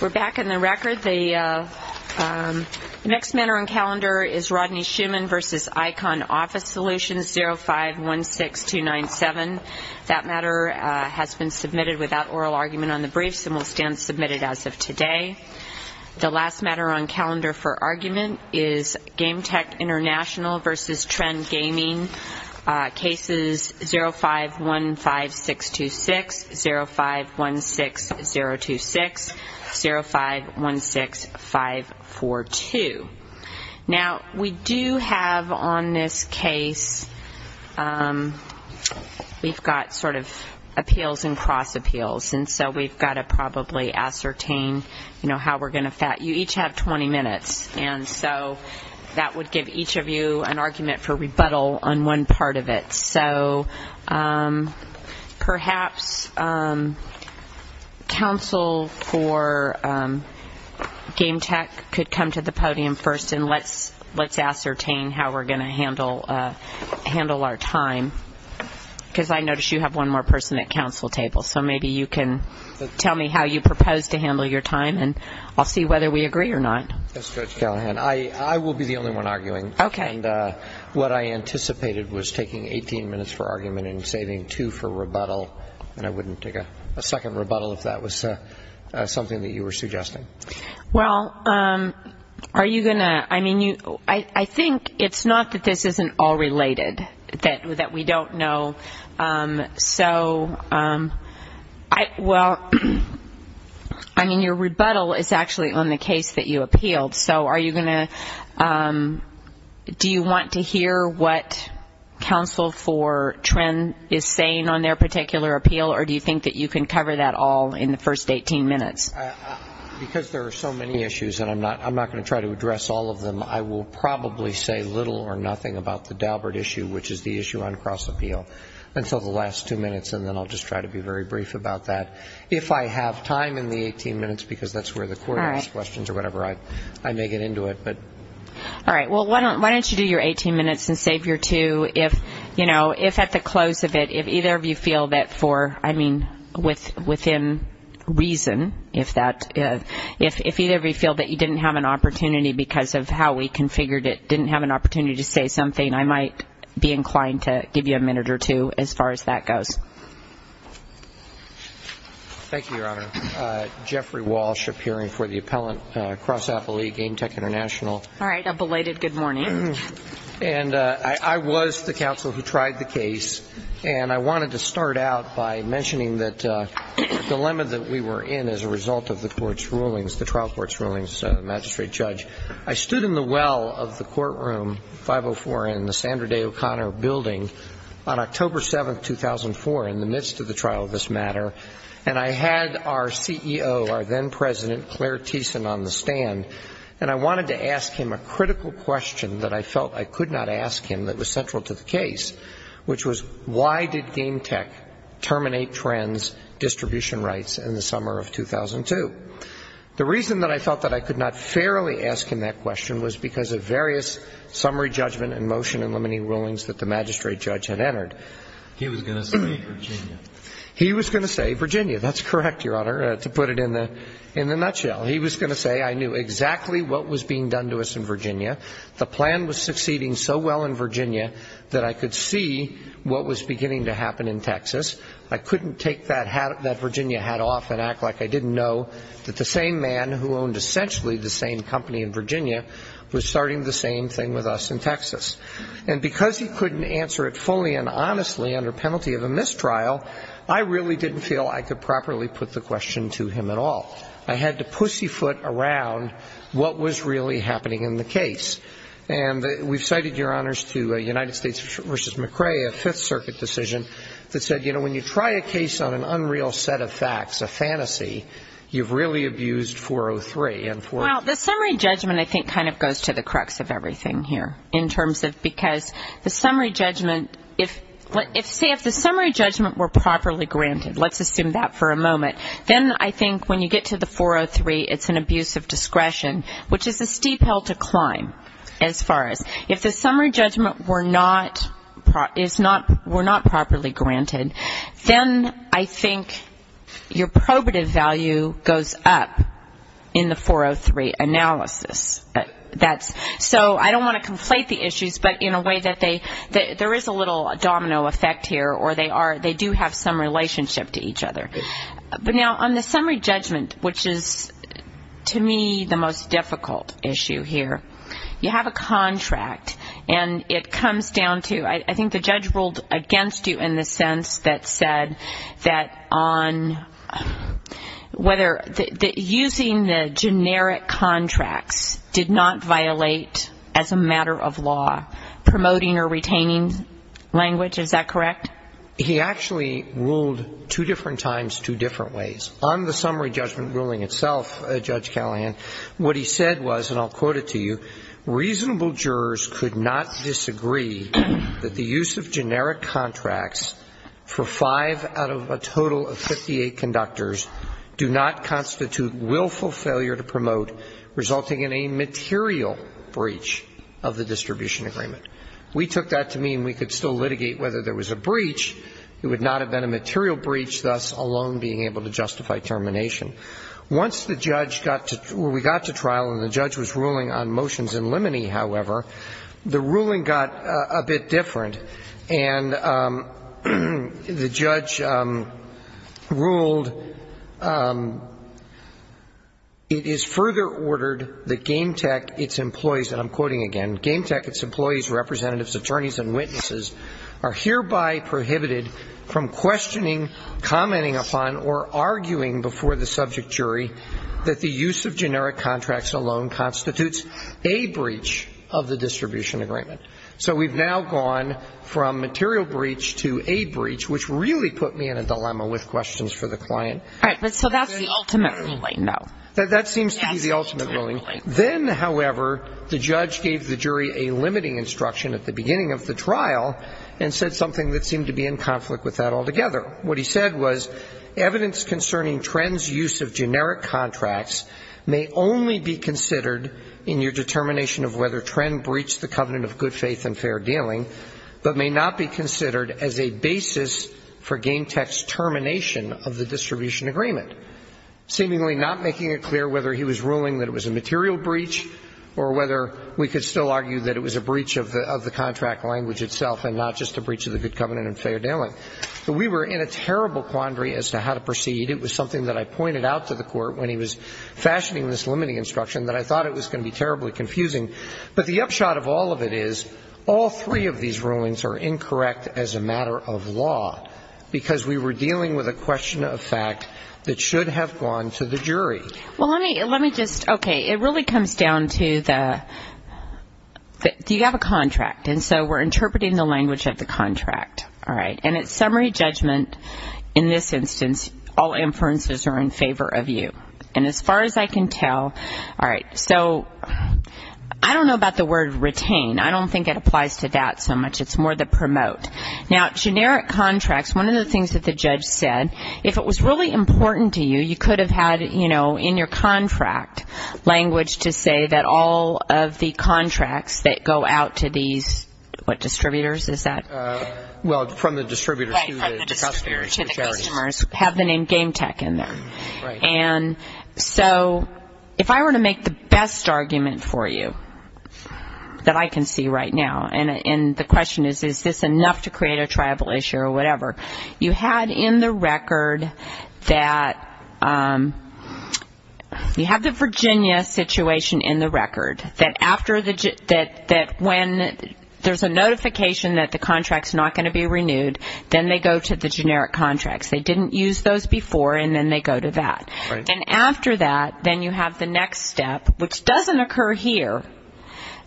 We're back in the record. The next matter on calendar is Rodney Schuman v. Icon Office Solutions 0516297. That matter has been submitted without oral argument on the briefs and will stand submitted as of today. The last matter on calendar for argument is GameTech International v. Trend Gaming Cases 0515626, 0516026, 0516542. Now, we do have on this case, we've got sort of appeals and cross appeals. And so we've got to probably ascertain, you know, how we're going to fat. You each have 20 minutes, and so that would give each of you an argument for rebuttal on one part of it. So perhaps counsel for GameTech could come to the podium first, and let's ascertain how we're going to handle our time, because I notice you have one more person at counsel table. So maybe you can tell me how you propose to handle your time, and I'll see whether we agree or not. Yes, Judge Callahan. I will be the only one arguing. Okay. And what I anticipated was taking 18 minutes for argument and saving two for rebuttal, and I wouldn't take a second rebuttal if that was something that you were suggesting. Well, are you going to – I mean, I think it's not that this isn't all related, that we don't know. So, well, I mean, your rebuttal is actually on the case that you appealed. So are you going to – do you want to hear what counsel for Trend is saying on their particular appeal, or do you think that you can cover that all in the first 18 minutes? Because there are so many issues, and I'm not going to try to address all of them, I will probably say little or nothing about the Daubert issue, which is the issue on cross-appeal, until the last two minutes, and then I'll just try to be very brief about that. If I have time in the 18 minutes, because that's where the court asks questions or whatever, I may get into it. All right. Well, why don't you do your 18 minutes and save your two if, you know, if at the close of it, if either of you feel that for, I mean, within reason, if that – didn't have an opportunity to say something, I might be inclined to give you a minute or two as far as that goes. Thank you, Your Honor. Jeffrey Walsh, appearing for the appellant cross-appellee, Game Tech International. All right. A belated good morning. And I was the counsel who tried the case, and I wanted to start out by mentioning the dilemma that we were in as a result of the court's rulings, the trial court's rulings, Magistrate Judge. I stood in the well of the courtroom, 504N, the Sandra Day O'Connor Building, on October 7, 2004, in the midst of the trial of this matter, and I had our CEO, our then president, Claire Thiessen, on the stand, and I wanted to ask him a critical question that I felt I could not ask him that was central to the case, which was why did Game Tech terminate trends, distribution rights, in the summer of 2002? The reason that I felt that I could not fairly ask him that question was because of various summary judgment and motion-eliminating rulings that the magistrate judge had entered. He was going to say Virginia. He was going to say Virginia. That's correct, Your Honor, to put it in the nutshell. He was going to say I knew exactly what was being done to us in Virginia. The plan was succeeding so well in Virginia that I could see what was beginning to happen in Texas. I couldn't take that Virginia hat off and act like I didn't know that the same man who owned essentially the same company in Virginia was starting the same thing with us in Texas. And because he couldn't answer it fully and honestly under penalty of a mistrial, I really didn't feel I could properly put the question to him at all. I had to pussyfoot around what was really happening in the case. And we've cited, Your Honors, to United States v. McCrae, a Fifth Circuit decision that said, you know, when you try a case on an unreal set of facts, a fantasy, you've really abused 403. Well, the summary judgment, I think, kind of goes to the crux of everything here in terms of because the summary judgment, if the summary judgment were properly granted, let's assume that for a moment, then I think when you get to the 403, it's an abuse of discretion, which is a steep hill to climb as far as If the summary judgment were not properly granted, then I think your probative value goes up in the 403 analysis. So I don't want to conflate the issues, but in a way that there is a little domino effect here, or they do have some relationship to each other. But now, on the summary judgment, which is, to me, the most difficult issue here, you have a contract, and it comes down to, I think the judge ruled against you in the sense that said that on whether, using the generic contracts did not violate, as a matter of law, promoting or retaining language. Is that correct? He actually ruled two different times, two different ways. On the summary judgment ruling itself, Judge Callahan, what he said was, and I'll quote it to you, reasonable jurors could not disagree that the use of generic contracts for five out of a total of 58 conductors do not constitute willful failure to promote, resulting in a material breach of the distribution agreement. We took that to mean we could still litigate whether there was a breach. It would not have been a material breach, thus alone being able to justify termination. Once the judge got to or we got to trial and the judge was ruling on motions in limine, however, the ruling got a bit different. And the judge ruled it is further ordered that GameTech, its employees, and I'm quoting again, GameTech, its employees, representatives, attorneys, and witnesses are hereby prohibited from questioning, commenting upon, or arguing before the subject jury that the use of generic contracts alone constitutes a breach of the distribution agreement. So we've now gone from material breach to a breach, which really put me in a dilemma with questions for the client. All right. So that's the ultimate ruling, though. That seems to be the ultimate ruling. Then, however, the judge gave the jury a limiting instruction at the beginning of the trial and said something that seemed to be in conflict with that altogether. What he said was evidence concerning Trenn's use of generic contracts may only be considered in your determination of whether Trenn breached the covenant of good faith and fair dealing, but may not be considered as a basis for GameTech's termination of the distribution agreement. Seemingly not making it clear whether he was ruling that it was a material breach or whether we could still argue that it was a breach of the contract language itself and not just a breach of the good covenant and fair dealing. But we were in a terrible quandary as to how to proceed. It was something that I pointed out to the Court when he was fashioning this limiting instruction that I thought it was going to be terribly confusing. But the upshot of all of it is all three of these rulings are incorrect as a matter of law, because we were dealing with a question of fact that should have gone to the jury. Well, let me just, okay, it really comes down to the, you have a contract, and so we're interpreting the language of the contract, all right? And it's summary judgment in this instance. All inferences are in favor of you. And as far as I can tell, all right, so I don't know about the word retain. I don't think it applies to that so much. It's more the promote. Now, generic contracts, one of the things that the judge said, if it was really important to you, you could have had, you know, in your contract language to say that all of the contracts that go out to these, what distributors is that? Well, from the distributors to the customers. To the customers, have the name Game Tech in there. And so if I were to make the best argument for you that I can see right now, and the question is, is this enough to create a tribal issue or whatever, you had in the record that you have the Virginia situation in the record, that when there's a notification that the contract's not going to be renewed, then they go to the generic contracts. They didn't use those before, and then they go to that. And after that, then you have the next step, which doesn't occur here,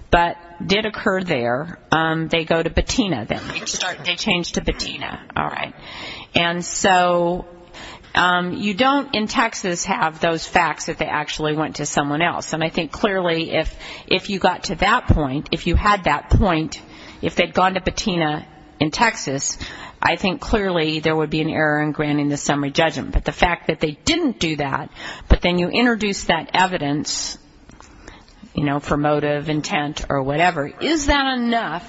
but did occur there. They go to BATINA then. They change to BATINA. All right. And so you don't in Texas have those facts that they actually went to someone else. And I think clearly if you got to that point, if you had that point, if they'd gone to BATINA in Texas, I think clearly there would be an error in granting the summary judgment. But the fact that they didn't do that, but then you introduce that evidence, you know, promotive intent or whatever, is that enough?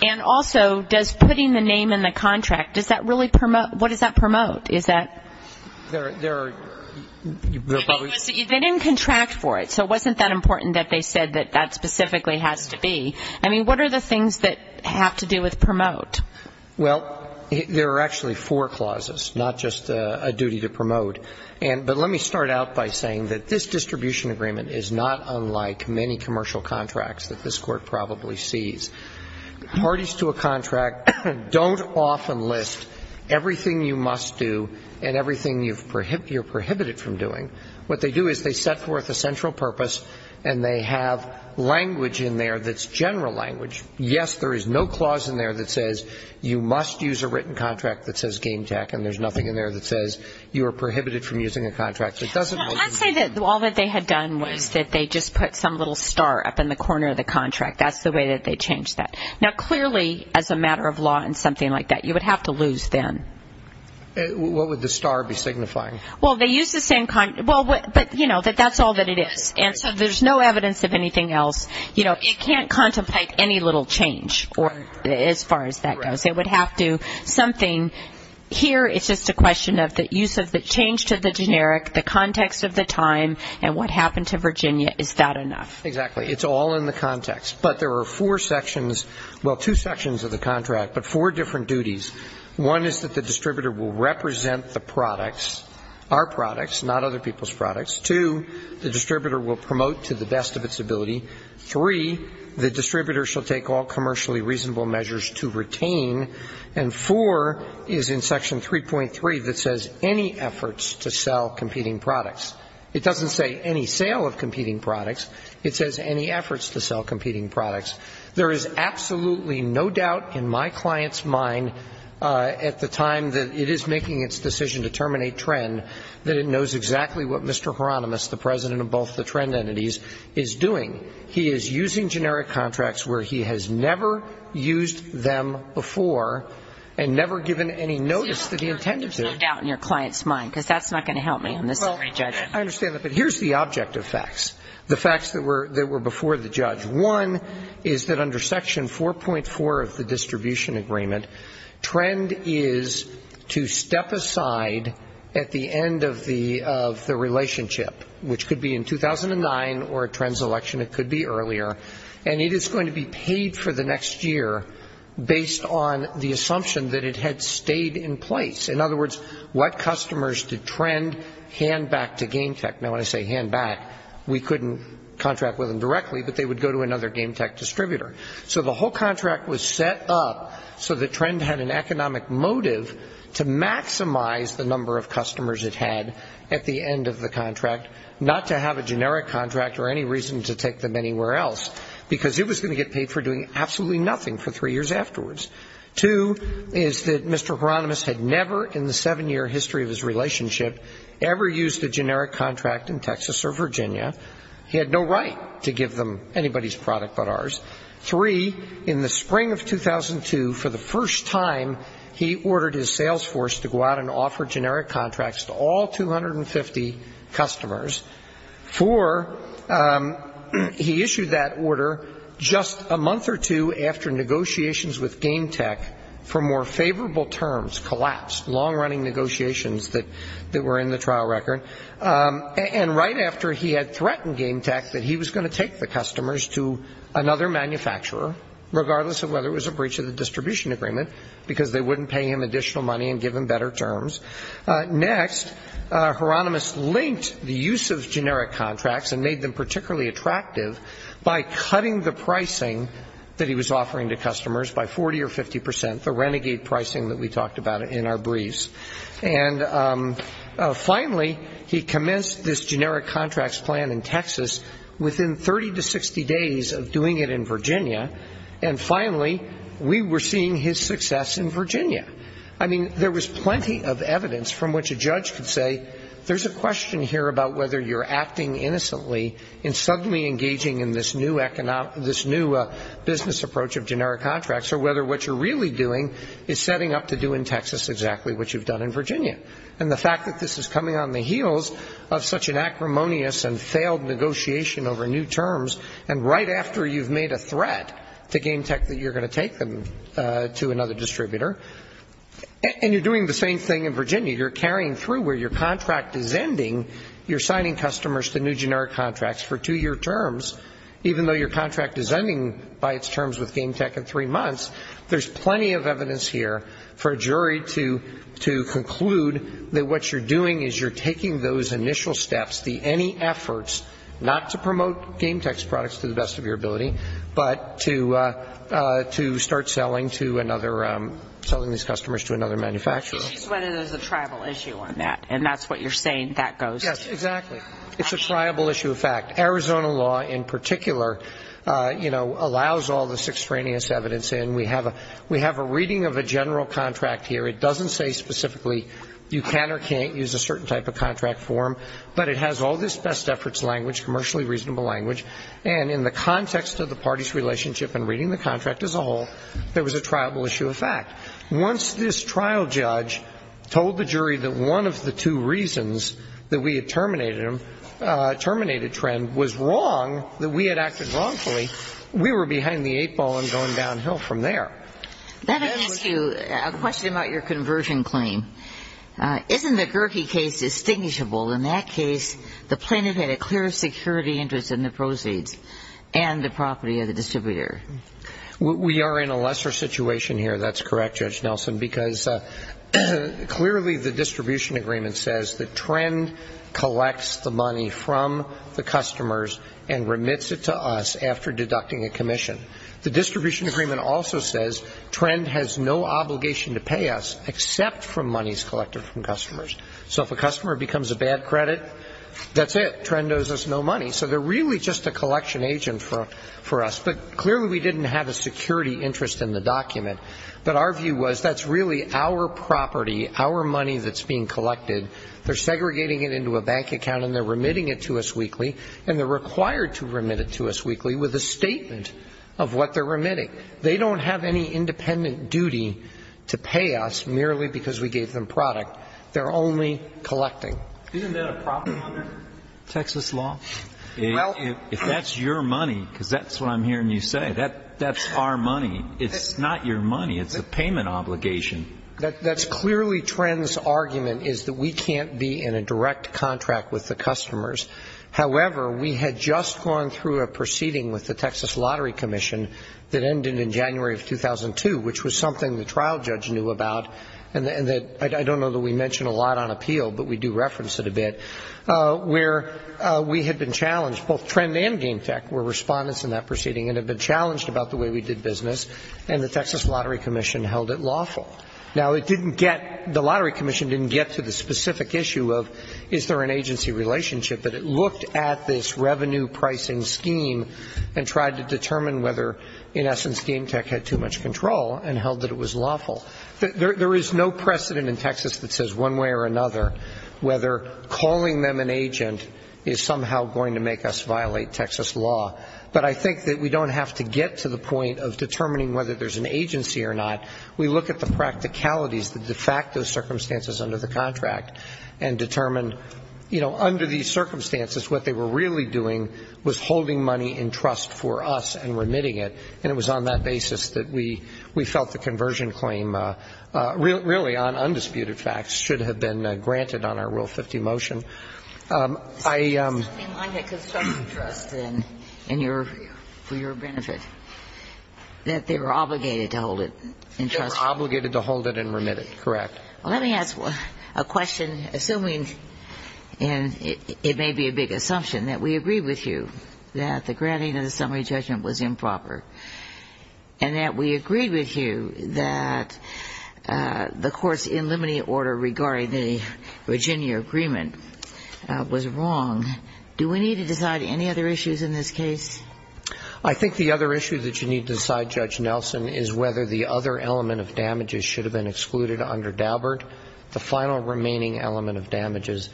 And also, does putting the name in the contract, does that really promote, what does that promote? Is that? They didn't contract for it, so it wasn't that important that they said that that specifically has to be. I mean, what are the things that have to do with promote? Well, there are actually four clauses, not just a duty to promote. But let me start out by saying that this distribution agreement is not unlike many commercial contracts that this Court probably sees. Parties to a contract don't often list everything you must do and everything you're prohibited from doing. What they do is they set forth a central purpose, and they have language in there that's general language. Yes, there is no clause in there that says you must use a written contract that says game tech, and there's nothing in there that says you are prohibited from using a contract. I'd say that all that they had done was that they just put some little star up in the corner of the contract. That's the way that they changed that. Now, clearly, as a matter of law and something like that, you would have to lose then. What would the star be signifying? Well, they used the same kind, but, you know, that's all that it is. And so there's no evidence of anything else. You know, it can't contemplate any little change as far as that goes. It would have to do something. Here it's just a question of the use of the change to the generic, the context of the time, and what happened to Virginia. Is that enough? Exactly. It's all in the context. But there are four sections, well, two sections of the contract, but four different duties. One is that the distributor will represent the products, our products, not other people's products. Two, the distributor will promote to the best of its ability. Three, the distributor shall take all commercially reasonable measures to retain. And four is in Section 3.3 that says any efforts to sell competing products. It doesn't say any sale of competing products. It says any efforts to sell competing products. There is absolutely no doubt in my client's mind at the time that it is making its decision to terminate Trend that it knows exactly what Mr. Hieronymus, the president of both the Trend entities, is doing. He is using generic contracts where he has never used them before and never given any notice that he intended to. There's no doubt in your client's mind, because that's not going to help me on this. Well, I understand that. But here's the object of facts, the facts that were before the judge. One is that under Section 4.4 of the distribution agreement, Trend is to step aside at the end of the relationship, which could be in 2009 or at Trend's election. It could be earlier. And it is going to be paid for the next year based on the assumption that it had stayed in place. In other words, what customers did Trend hand back to GameTech? Now, when I say hand back, we couldn't contract with them directly, but they would go to another GameTech distributor. So the whole contract was set up so that Trend had an economic motive to maximize the number of customers it had at the end of the contract, not to have a generic contract or any reason to take them anywhere else, because it was going to get paid for doing absolutely nothing for three years afterwards. Two is that Mr. Hieronymus had never in the seven-year history of his relationship ever used a generic contract in Texas or Virginia. He had no right to give them anybody's product but ours. Three, in the spring of 2002, for the first time, he ordered his sales force to go out and offer generic contracts to all 250 customers. Four, he issued that order just a month or two after negotiations with GameTech for more favorable terms collapsed, long-running negotiations that were in the trial record. And right after he had threatened GameTech that he was going to take the customers to another manufacturer, regardless of whether it was a breach of the distribution agreement, because they wouldn't pay him additional money and give him better terms. Next, Hieronymus linked the use of generic contracts and made them particularly attractive by cutting the pricing that he was offering to customers by 40 or 50 percent, the renegade pricing that we talked about in our briefs. And finally, he commenced this generic contracts plan in Texas within 30 to 60 days of doing it in Virginia. And finally, we were seeing his success in Virginia. I mean, there was plenty of evidence from which a judge could say, there's a question here about whether you're acting innocently and suddenly engaging in this new business approach of generic contracts or whether what you're really doing is setting up to do in Texas exactly what you've done in Virginia. And the fact that this is coming on the heels of such an acrimonious and failed negotiation over new terms, and right after you've made a threat to GameTech that you're going to take them to another distributor, and you're doing the same thing in Virginia, you're carrying through where your contract is ending, you're signing customers to new generic contracts for two-year terms, even though your contract is ending by its terms with GameTech in three months, there's plenty of evidence here for a jury to conclude that what you're doing is you're taking those initial steps, the any efforts not to promote GameTech's products to the best of your ability, but to start selling to another, selling these customers to another manufacturer. But she said it is a tribal issue on that, and that's what you're saying that goes to. Yes, exactly. It's a tribal issue of fact. Arizona law in particular, you know, allows all this extraneous evidence in. We have a reading of a general contract here. It doesn't say specifically you can or can't use a certain type of contract form, but it has all this best efforts language, commercially reasonable language, and in the context of the party's relationship and reading the contract as a whole, there was a tribal issue of fact. Once this trial judge told the jury that one of the two reasons that we had terminated a trend was wrong, that we had acted wrongfully, we were behind the eight ball and going downhill from there. Let me ask you a question about your conversion claim. Isn't the Gerke case distinguishable? In that case, the plaintiff had a clear security interest in the proceeds and the property of the distributor. We are in a lesser situation here. That's correct, Judge Nelson, because clearly the distribution agreement says that Trend collects the money from the customers and remits it to us after deducting a commission. The distribution agreement also says Trend has no obligation to pay us except for monies collected from customers. So if a customer becomes a bad credit, that's it. Trend owes us no money. So they're really just a collection agent for us. But clearly we didn't have a security interest in the document. But our view was that's really our property, our money that's being collected. They're segregating it into a bank account and they're remitting it to us weekly, and they're required to remit it to us weekly with a statement of what they're remitting. They don't have any independent duty to pay us merely because we gave them product. They're only collecting. Isn't that a problem under Texas law? If that's your money, because that's what I'm hearing you say, that's our money. It's not your money. It's a payment obligation. That's clearly Trend's argument is that we can't be in a direct contract with the customers. However, we had just gone through a proceeding with the Texas Lottery Commission that ended in January of 2002, which was something the trial judge knew about, and I don't know that we mention a lot on appeal, but we do reference it a bit, where we had been challenged, both Trend and Game Tech were respondents in that proceeding and had been challenged about the way we did business, and the Texas Lottery Commission held it lawful. Now, it didn't get, the Lottery Commission didn't get to the specific issue of is there an agency relationship, but it looked at this revenue pricing scheme and tried to determine whether in essence Game Tech had too much control and held that it was lawful. There is no precedent in Texas that says one way or another whether calling them an agent is somehow going to make us violate Texas law, but I think that we don't have to get to the point of determining whether there's an agency or not. We look at the practicalities, the de facto circumstances under the contract, and determine, you know, under these circumstances what they were really doing was holding money in trust for us and remitting it, and it was on that basis that we felt the conversion claim, really on undisputed facts, should have been granted on our Rule 50 motion. I am... It's something like a consumption trust, then, for your benefit, that they were obligated to hold it in trust. They were obligated to hold it and remit it, correct. Let me ask a question, assuming, and it may be a big assumption, that we agreed with you that the granting of the summary judgment was improper and that we agreed with you that the court's in limine order regarding the Virginia agreement was wrong, do we need to decide any other issues in this case? I think the other issue that you need to decide, Judge Nelson, is whether the other element of damages should have been excluded under Daubert, the final remaining element of damages.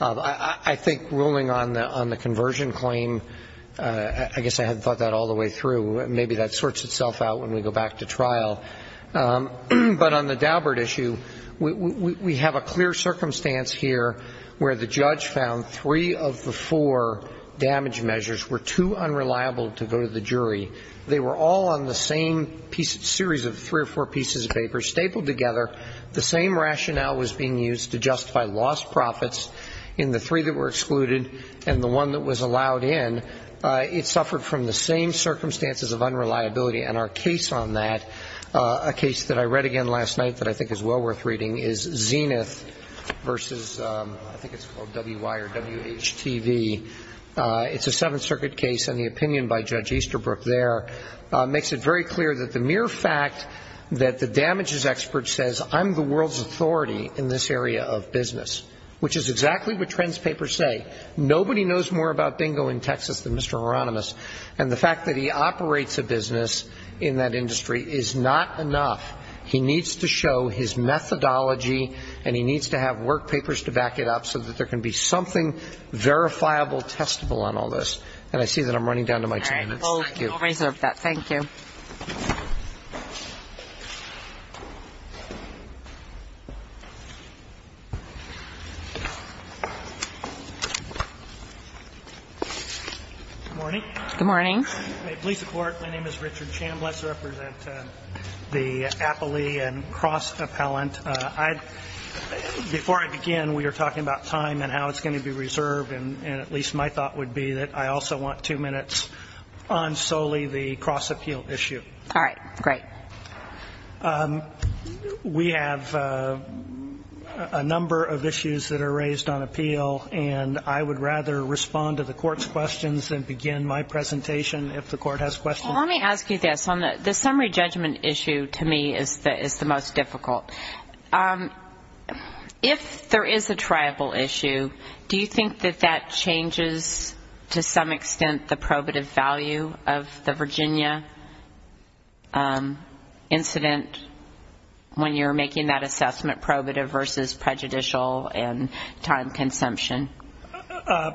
I think ruling on the conversion claim, I guess I hadn't thought that all the way through. Maybe that sorts itself out when we go back to trial. But on the Daubert issue, we have a clear circumstance here where the judge found three of the four damage measures were too unreliable to go to the jury. They were all on the same series of three or four pieces of paper stapled together. The same rationale was being used to justify lost profits in the three that were excluded and the one that was allowed in. It suffered from the same circumstances of unreliability. And our case on that, a case that I read again last night that I think is well worth reading, is Zenith v. I think it's called WY or WHTV. It's a Seventh Circuit case, and the opinion by Judge Easterbrook there makes it very clear that the mere fact that the damages expert says I'm the world's authority in this area of business, which is exactly what Trent's papers say. Nobody knows more about bingo in Texas than Mr. Hieronymus, and the fact that he operates a business in that industry is not enough. He needs to show his methodology, and he needs to have work papers to back it up so that there can be something verifiable, testable on all this. And I see that I'm running down to my time. Thank you. I'll reserve that. Thank you. Good morning. Good morning. May it please the Court, my name is Richard Chambliss. I represent the Appley and Cross appellant. Before I begin, we were talking about time and how it's going to be reserved, and at least my thought would be that I also want two minutes on solely the cross-appeal issue. All right. Great. We have a number of issues that are raised on appeal, and I would rather respond to the Court's questions than begin my presentation if the Court has questions. Let me ask you this. The summary judgment issue to me is the most difficult. If there is a triable issue, do you think that that changes to some extent the probative value of the Virginia incident when you're making that assessment, probative versus prejudicial and time consumption?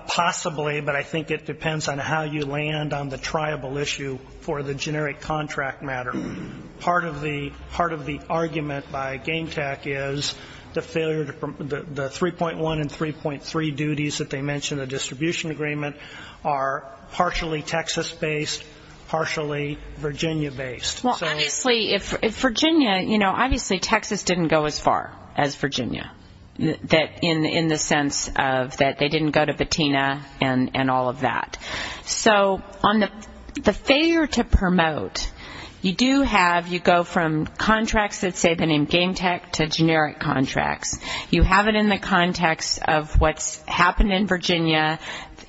Possibly, but I think it depends on how you land on the triable issue for the generic contract matter. Part of the argument by Game Tech is the 3.1 and 3.3 duties that they mention in the distribution agreement are partially Texas-based, partially Virginia-based. Well, obviously, if Virginia, you know, obviously Texas didn't go as far as Virginia, in the sense that they didn't go to Patina and all of that. So on the failure to promote, you do have, you go from contracts that say the name Game Tech to generic contracts. You have it in the context of what's happened in Virginia,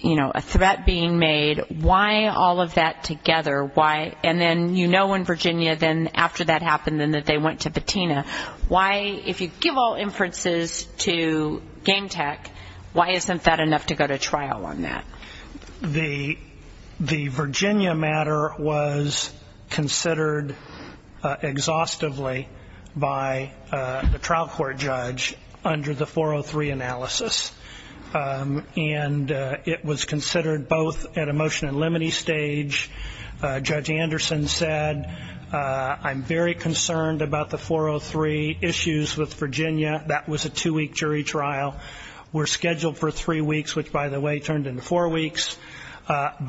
you know, a threat being made. Why all of that together? And then you know in Virginia then after that happened and that they went to Patina. Why, if you give all inferences to Game Tech, why isn't that enough to go to trial on that? The Virginia matter was considered exhaustively by the trial court judge under the 403 analysis. And it was considered both at a motion and limine stage. Judge Anderson said, I'm very concerned about the 403 issues with Virginia. That was a two-week jury trial. We're scheduled for three weeks, which by the way turned into four weeks. But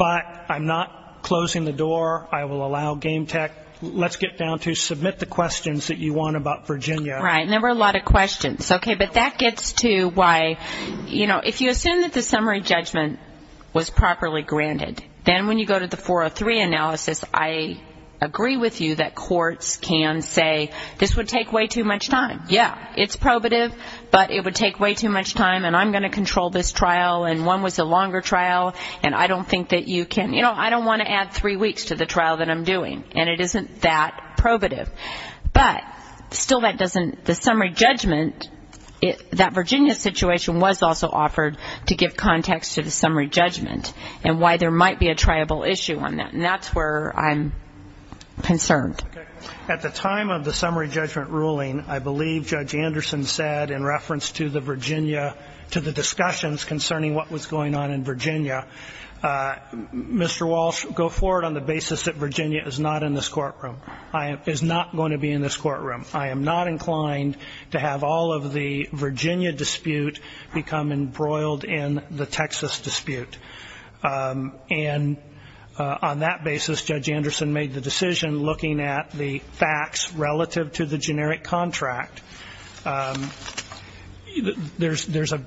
I'm not closing the door. I will allow Game Tech. Let's get down to submit the questions that you want about Virginia. Right, and there were a lot of questions. Okay, but that gets to why, you know, if you assume that the summary judgment was properly granted, then when you go to the 403 analysis, I agree with you that courts can say, this would take way too much time. Yeah, it's probative, but it would take way too much time, and I'm going to control this trial, and one was a longer trial, and I don't think that you can, you know, I don't want to add three weeks to the trial that I'm doing, and it isn't that probative. But still that doesn't, the summary judgment, that Virginia situation was also offered to give context to the summary judgment and why there might be a triable issue on that. And that's where I'm concerned. At the time of the summary judgment ruling, I believe Judge Anderson said in reference to the Virginia, to the discussions concerning what was going on in Virginia, Mr. Walsh, go forward on the basis that Virginia is not in this courtroom, is not going to be in this courtroom. I am not inclined to have all of the Virginia dispute become embroiled in the Texas dispute. And on that basis, Judge Anderson made the decision looking at the facts relative to the generic contract. There's a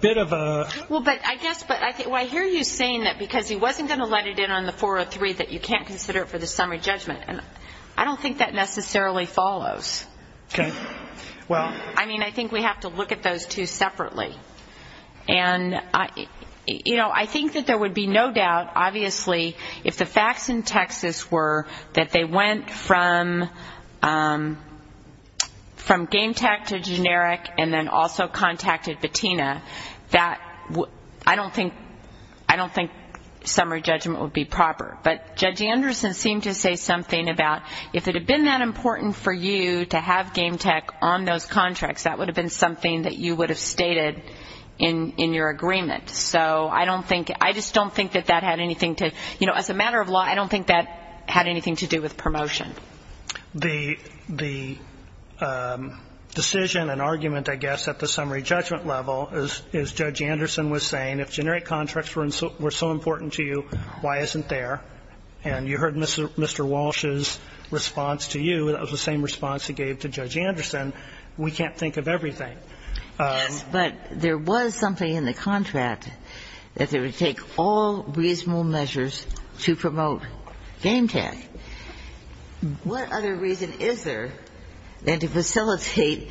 bit of a... Well, but I guess, but I hear you saying that because he wasn't going to let it in on the 403 that you can't consider it for the summary judgment, and I don't think that necessarily follows. Okay, well... I mean, I think we have to look at those two separately. And, you know, I think that there would be no doubt, obviously, if the facts in Texas were that they went from Game Tech to generic and then also contacted VATINA, that I don't think summary judgment would be proper. But Judge Anderson seemed to say something about if it had been that important for you to have Game Tech on those contracts, that would have been something that you would have stated in your agreement. So I don't think, I just don't think that that had anything to, you know, as a matter of law, I don't think that had anything to do with promotion. The decision and argument, I guess, at the summary judgment level is Judge Anderson was saying, if generic contracts were so important to you, why isn't there? And you heard Mr. Walsh's response to you. That was the same response he gave to Judge Anderson. We can't think of everything. Yes, but there was something in the contract that they would take all reasonable measures to promote Game Tech. What other reason is there than to facilitate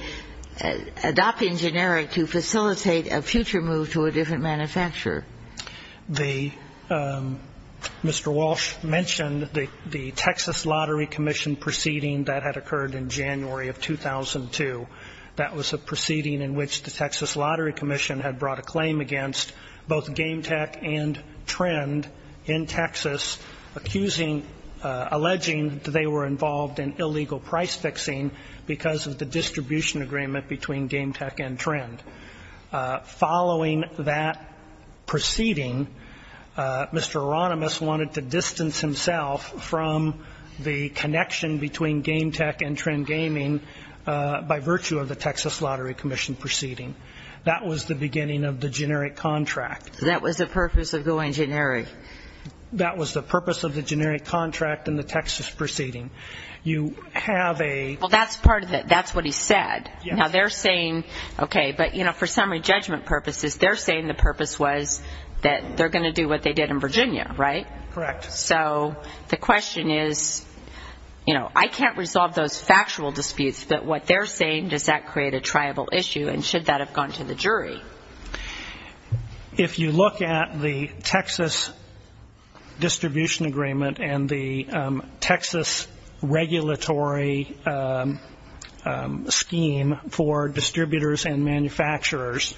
adopting generic to facilitate a future move to a different manufacturer? The, Mr. Walsh mentioned the Texas Lottery Commission proceeding that had occurred in January of 2002. That was a proceeding in which the Texas Lottery Commission had brought a claim against both Game Tech and Trend in Texas, accusing, alleging they were involved in illegal price fixing because of the distribution agreement between Game Tech and Trend. Following that proceeding, Mr. Oronymous wanted to distance himself from the connection between Game Tech and Trend Gaming by virtue of the Texas Lottery Commission proceeding. That was the beginning of the generic contract. So that was the purpose of going generic? That was the purpose of the generic contract and the Texas proceeding. You have a Well, that's part of it. That's what he said. Yes. Now, they're saying, okay, but, you know, for summary judgment purposes, they're saying the purpose was that they're going to do what they did in Virginia, right? Correct. So the question is, you know, I can't resolve those factual disputes, but what they're saying, does that create a triable issue and should that have gone to the jury? If you look at the Texas distribution agreement and the Texas regulatory scheme for distributors and manufacturers,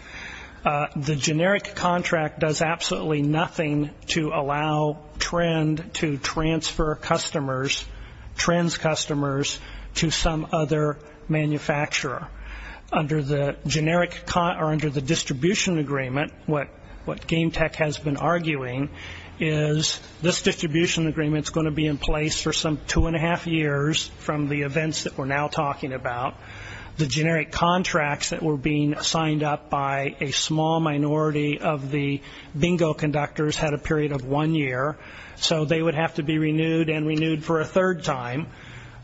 the generic contract does absolutely nothing to allow Trend to transfer customers, Trend's customers, to some other manufacturer. Under the distribution agreement, what Game Tech has been arguing is this distribution agreement is going to be in place for some two and a half years from the events that we're now talking about. The generic contracts that were being signed up by a small minority of the bingo conductors had a period of one year, so they would have to be renewed and renewed for a third time.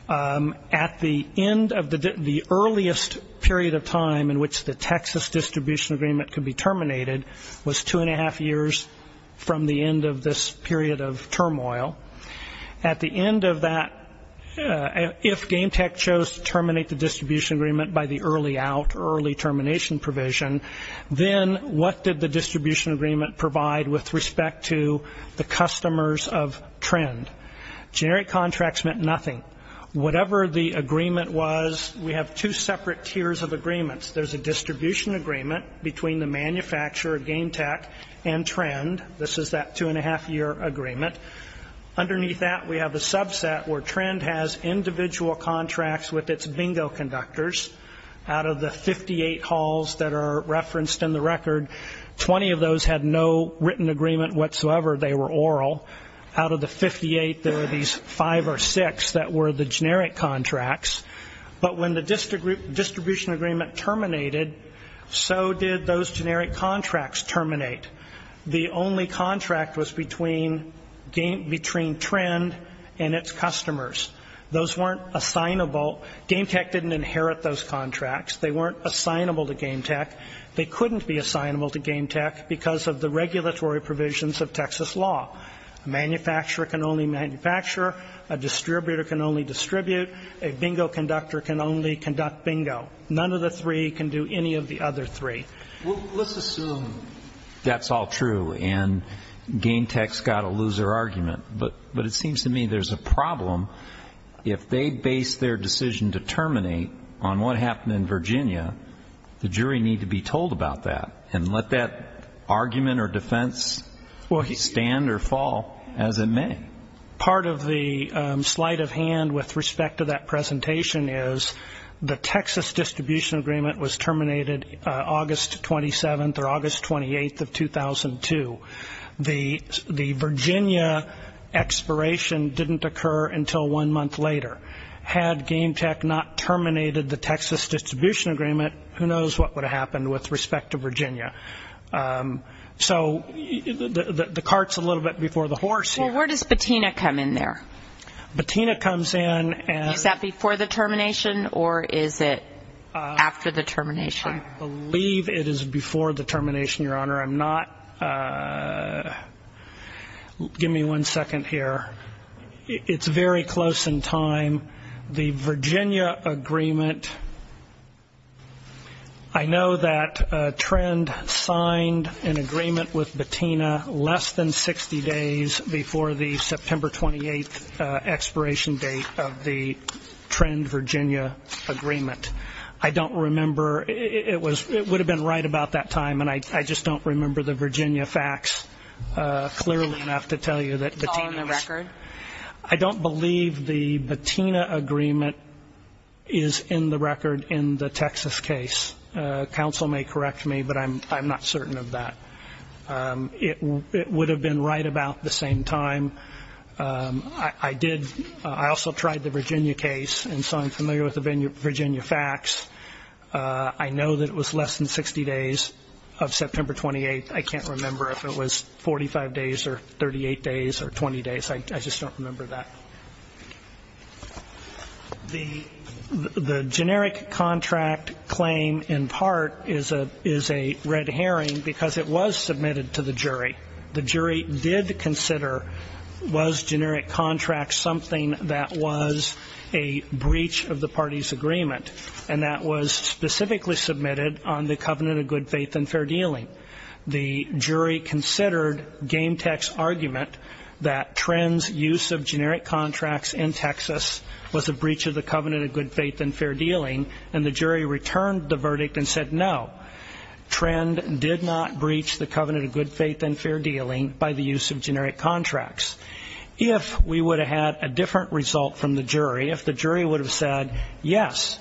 At the end of the earliest period of time in which the Texas distribution agreement could be terminated was two and a half years from the end of this period of turmoil. At the end of that, if Game Tech chose to terminate the distribution agreement by the early out or early termination provision, then what did the distribution agreement provide with respect to the customers of Trend? Generic contracts meant nothing. Whatever the agreement was, we have two separate tiers of agreements. There's a distribution agreement between the manufacturer of Game Tech and Trend. This is that two and a half year agreement. Underneath that, we have a subset where Trend has individual contracts with its bingo conductors. Out of the 58 halls that are referenced in the record, 20 of those had no written agreement whatsoever. They were oral. Out of the 58, there were these five or six that were the generic contracts. But when the distribution agreement terminated, so did those generic contracts terminate. The only contract was between Trend and its customers. Those weren't assignable. Game Tech didn't inherit those contracts. They weren't assignable to Game Tech. They couldn't be assignable to Game Tech because of the regulatory provisions of Texas law. A manufacturer can only manufacture. A distributor can only distribute. A bingo conductor can only conduct bingo. None of the three can do any of the other three. Well, let's assume that's all true and Game Tech's got a loser argument. But it seems to me there's a problem. If they base their decision to terminate on what happened in Virginia, the jury need to be told about that and let that argument or defense stand or fall as it may. Part of the sleight of hand with respect to that presentation is the Texas distribution agreement was terminated August 27th or August 28th of 2002. The Virginia expiration didn't occur until one month later. Had Game Tech not terminated the Texas distribution agreement, who knows what would have happened with respect to Virginia. So the cart's a little bit before the horse here. Well, where does Bettina come in there? Bettina comes in and – Is that before the termination or is it after the termination? I believe it is before the termination, Your Honor. I'm not – give me one second here. It's very close in time. The Virginia agreement, I know that Trend signed an agreement with Bettina less than 60 days before the September 28th expiration date of the Trend-Virginia agreement. I don't remember. It would have been right about that time, and I just don't remember the Virginia facts clearly enough to tell you that Bettina is in the record. I don't believe the Bettina agreement is in the record in the Texas case. Counsel may correct me, but I'm not certain of that. It would have been right about the same time. I did – I also tried the Virginia case, and so I'm familiar with the Virginia facts. I know that it was less than 60 days of September 28th. I can't remember if it was 45 days or 38 days or 20 days. I just don't remember that. The generic contract claim in part is a red herring because it was submitted to the jury. The jury did consider, was generic contract something that was a breach of the party's agreement, and that was specifically submitted on the covenant of good faith and fair dealing. The jury considered Gametech's argument that Trend's use of generic contracts in Texas was a breach of the covenant of good faith and fair dealing, and the jury returned the verdict and said no, Trend did not breach the covenant of good faith and fair dealing by the use of generic contracts. If we would have had a different result from the jury, if the jury would have said yes,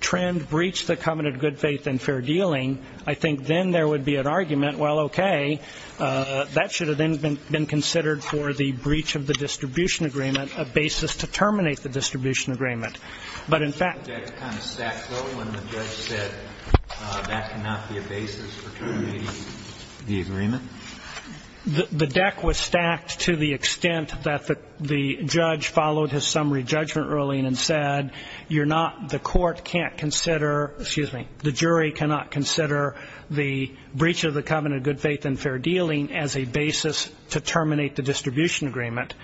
Trend breached the covenant of good faith and fair dealing, I think then there would be an argument, well, okay, that should have then been considered for the breach of the distribution agreement, a basis to terminate the distribution agreement. But in fact the deck kind of stacked low when the judge said that cannot be a basis for terminating the agreement. The deck was stacked to the extent that the judge followed his summary judgment ruling and said you're not, the court can't consider, excuse me, the jury cannot consider the breach of the covenant of good faith and fair dealing as a basis to terminate the distribution agreement.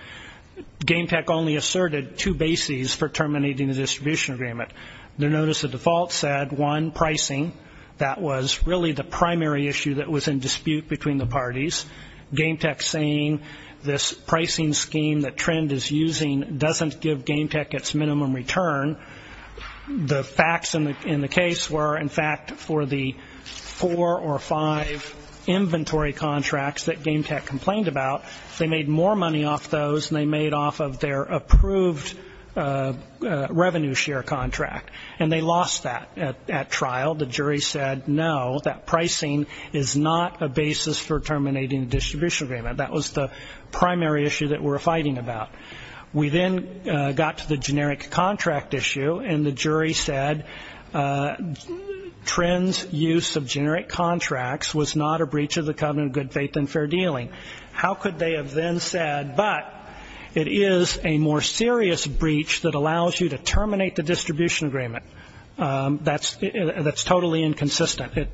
Gametech only asserted two bases for terminating the distribution agreement. Their notice of default said, one, pricing. That was really the primary issue that was in dispute between the parties. Gametech saying this pricing scheme that Trend is using doesn't give Gametech its minimum return. The facts in the case were, in fact, for the four or five inventory contracts that Gametech complained about, they made more money off those than they made off of their approved revenue share contract, and they lost that at trial. The jury said, no, that pricing is not a basis for terminating the distribution agreement. That was the primary issue that we're fighting about. We then got to the generic contract issue, and the jury said Trend's use of generic contracts was not a breach of the covenant of good faith and fair dealing. How could they have then said, but it is a more serious breach that allows you to terminate the distribution agreement? That's totally inconsistent.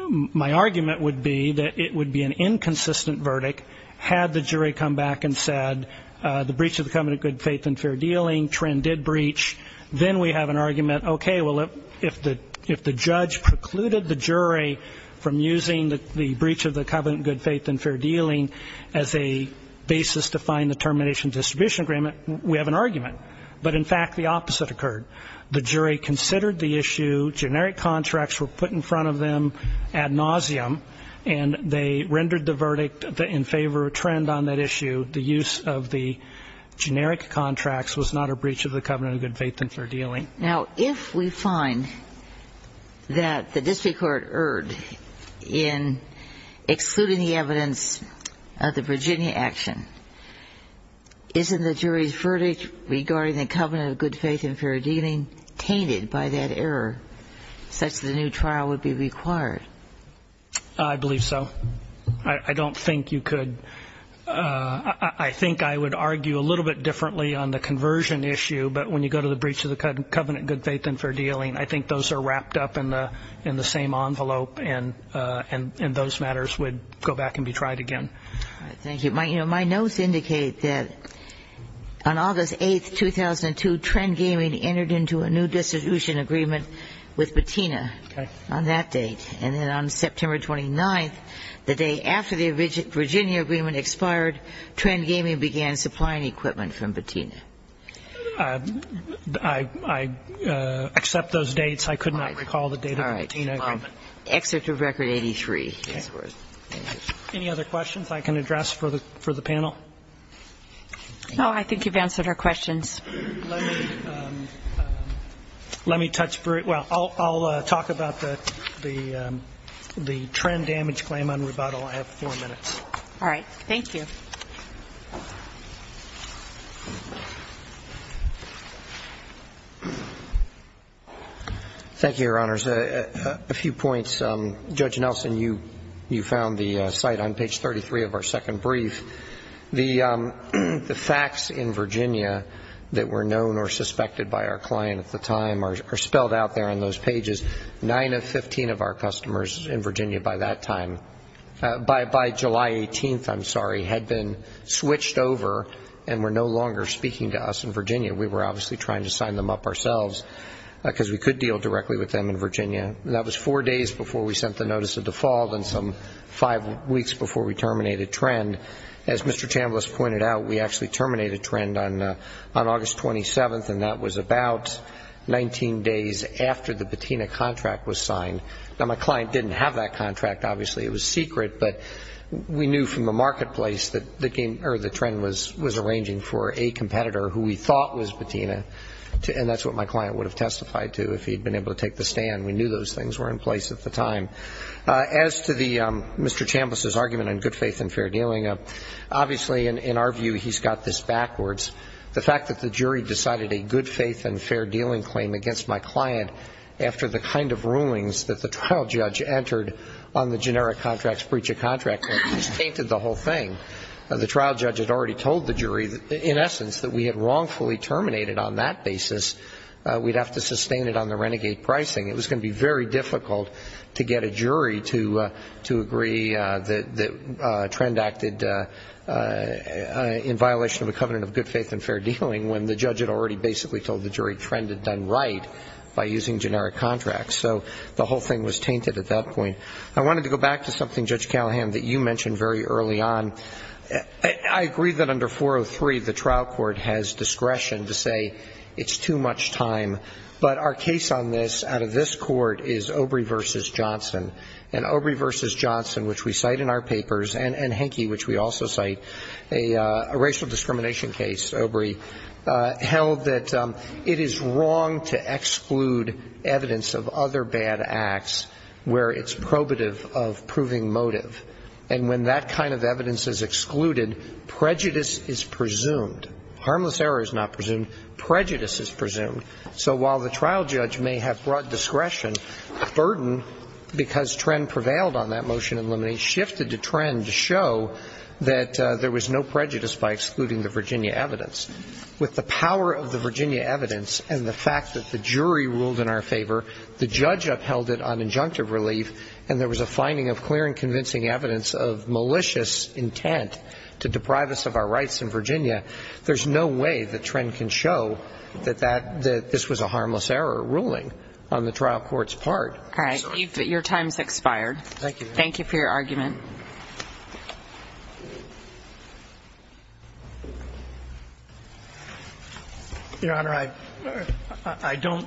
My argument would be that it would be an inconsistent verdict had the jury come back and said the breach of the covenant of good faith and fair dealing, Trend did breach, then we have an argument, okay, well, if the judge precluded the jury from using the breach of the covenant of good faith and fair dealing as a basis to find the termination distribution agreement, we have an argument. But, in fact, the opposite occurred. The jury considered the issue, generic contracts were put in front of them ad nauseum, and they rendered the verdict in favor of Trend on that issue. The use of the generic contracts was not a breach of the covenant of good faith and fair dealing. Now, if we find that the district court erred in excluding the evidence of the Virginia action, isn't the jury's verdict regarding the covenant of good faith and fair dealing tainted by that error, such that a new trial would be required? I believe so. I don't think you could. I think I would argue a little bit differently on the conversion issue, but when you go to the breach of the covenant of good faith and fair dealing, I think those are wrapped up in the same envelope, and those matters would go back and be tried again. Thank you. My notes indicate that on August 8th, 2002, Trend Gaming entered into a new distribution agreement with Patina on that date. And then on September 29th, the day after the Virginia agreement expired, Trend Gaming began supplying equipment from Patina. I accept those dates. I could not recall the date of the Patina agreement. All right. Excerpt of Record 83. Any other questions? Anything else I can address for the panel? No, I think you've answered our questions. Let me touch briefly. I'll talk about the Trend Damage Claim on rebuttal. I have four minutes. All right. Thank you. Thank you, Your Honors. A few points. Judge Nelson, you found the site on page 33 of our second brief. The facts in Virginia that were known or suspected by our client at the time are spelled out there on those pages. Nine of 15 of our customers in Virginia by that time, by July 18th, I'm sorry, had been switched over and were no longer speaking to us in Virginia. We were obviously trying to sign them up ourselves because we could deal directly with them in Virginia. And that was four days before we sent the notice of default and some five weeks before we terminated Trend. As Mr. Chambliss pointed out, we actually terminated Trend on August 27th, and that was about 19 days after the Patina contract was signed. Now, my client didn't have that contract, obviously. It was secret. But we knew from the marketplace that the Trend was arranging for a competitor who we thought was Patina, and that's what my client would have testified to if he had been able to take the stand. We knew those things were in place at the time. As to Mr. Chambliss's argument on good faith and fair dealing, obviously, in our view, he's got this backwards. The fact that the jury decided a good faith and fair dealing claim against my client after the kind of rulings that the trial judge entered on the generic contracts, breach of contracts, just tainted the whole thing. The trial judge had already told the jury, in essence, that we had wrongfully terminated on that basis. We'd have to sustain it on the renegade pricing. It was going to be very difficult to get a jury to agree that Trend acted in violation of a covenant of good faith and fair dealing when the judge had already basically told the jury Trend had done right by using generic contracts. So the whole thing was tainted at that point. I wanted to go back to something, Judge Callahan, that you mentioned very early on. I agree that under 403, the trial court has discretion to say it's too much time. But our case on this, out of this court, is Obrey v. Johnson. And Obrey v. Johnson, which we cite in our papers, and Henke, which we also cite, a racial discrimination case, Obrey, held that it is wrong to exclude evidence of other bad acts where it's probative of proving motive. And when that kind of evidence is excluded, prejudice is presumed. Harmless error is not presumed. Prejudice is presumed. So while the trial judge may have brought discretion, burden, because Trend prevailed on that motion in limine, shifted to Trend to show that there was no prejudice by excluding the Virginia evidence. With the power of the Virginia evidence and the fact that the jury ruled in our favor, the judge upheld it on injunctive relief, and there was a finding of clear and convincing evidence of malicious intent to deprive us of our rights in Virginia, there's no way that Trend can show that this was a harmless error ruling on the trial court's part. All right. Your time has expired. Thank you. Thank you for your argument. Your Honor, I don't,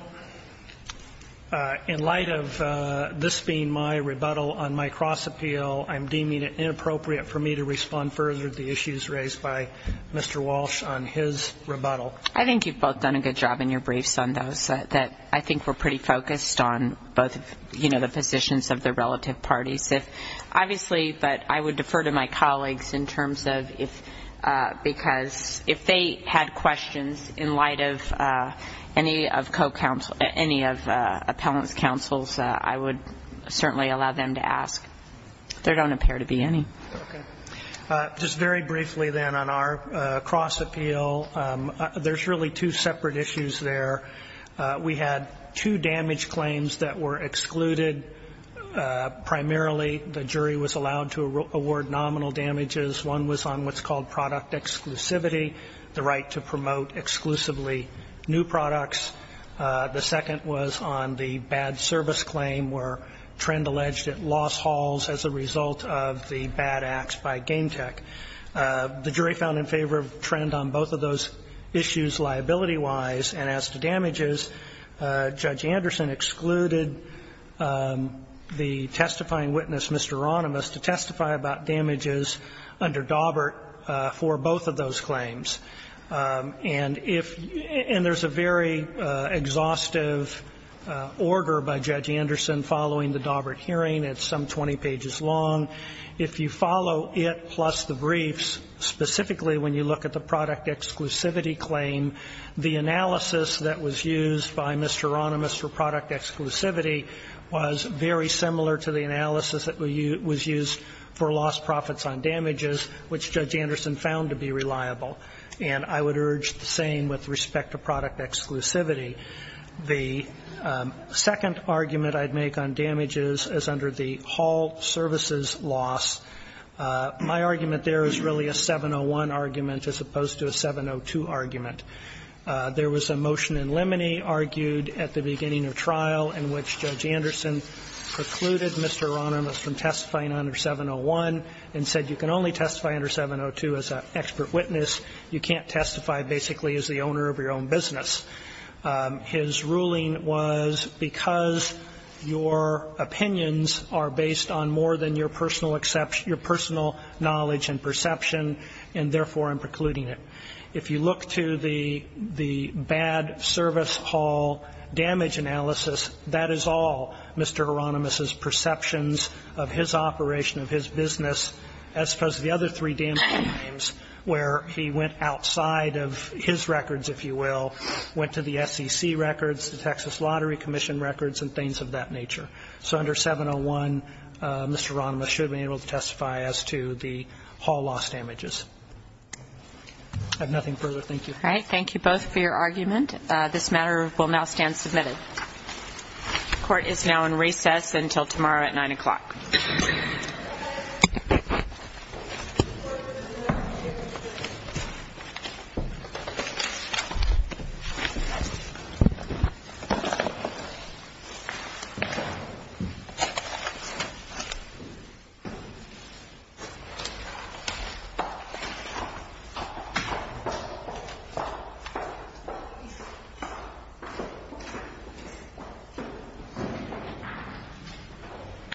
in light of this being my rebuttal on my cross-appeal, I'm deeming it inappropriate for me to respond further to the issues raised by Mr. Walsh on his rebuttal. I think you've both done a good job in your briefs on those. I think we're pretty focused on both, you know, the positions of the relative parties. Obviously, but I would defer to my colleagues in terms of if, because if they had questions in light of any of co-counsel, any of appellant's counsels, I would certainly allow them to ask. There don't appear to be any. Okay. Just very briefly, then, on our cross-appeal, there's really two separate issues there. We had two damage claims that were excluded. Primarily, the jury was allowed to award nominal damages. One was on what's called product exclusivity, the right to promote exclusively new products. The second was on the bad service claim where Trent alleged it lost halls as a result of the bad acts by Game Tech. The jury found in favor of Trent on both of those issues liability-wise. And as to damages, Judge Anderson excluded the testifying witness, Mr. Ronimus, to testify about damages under Dawbert for both of those claims. And if you – and there's a very exhaustive order by Judge Anderson following the Dawbert hearing. It's some 20 pages long. If you follow it plus the briefs, specifically when you look at the product exclusivity claim, the analysis that was used by Mr. Ronimus for product exclusivity was very similar to the analysis that was used for lost profits on damages, which Judge Anderson found to be reliable. And I would urge the same with respect to product exclusivity. The second argument I'd make on damages is under the hall services loss. My argument there is really a 701 argument as opposed to a 702 argument. There was a motion in Lemony argued at the beginning of trial in which Judge Anderson precluded Mr. Ronimus from testifying under 701 and said you can only testify under 702 as an expert witness. You can't testify basically as the owner of your own business. His ruling was because your opinions are based on more than your personal knowledge and perception, and therefore I'm precluding it. If you look to the bad service hall damage analysis, that is all Mr. Ronimus's where he went outside of his records, if you will, went to the SEC records, the Texas Lottery Commission records, and things of that nature. So under 701, Mr. Ronimus should be able to testify as to the hall loss damages. I have nothing further. Thank you. All right. Thank you both for your argument. This matter will now stand submitted. Court is now in recess until tomorrow at 9 o'clock. Thank you.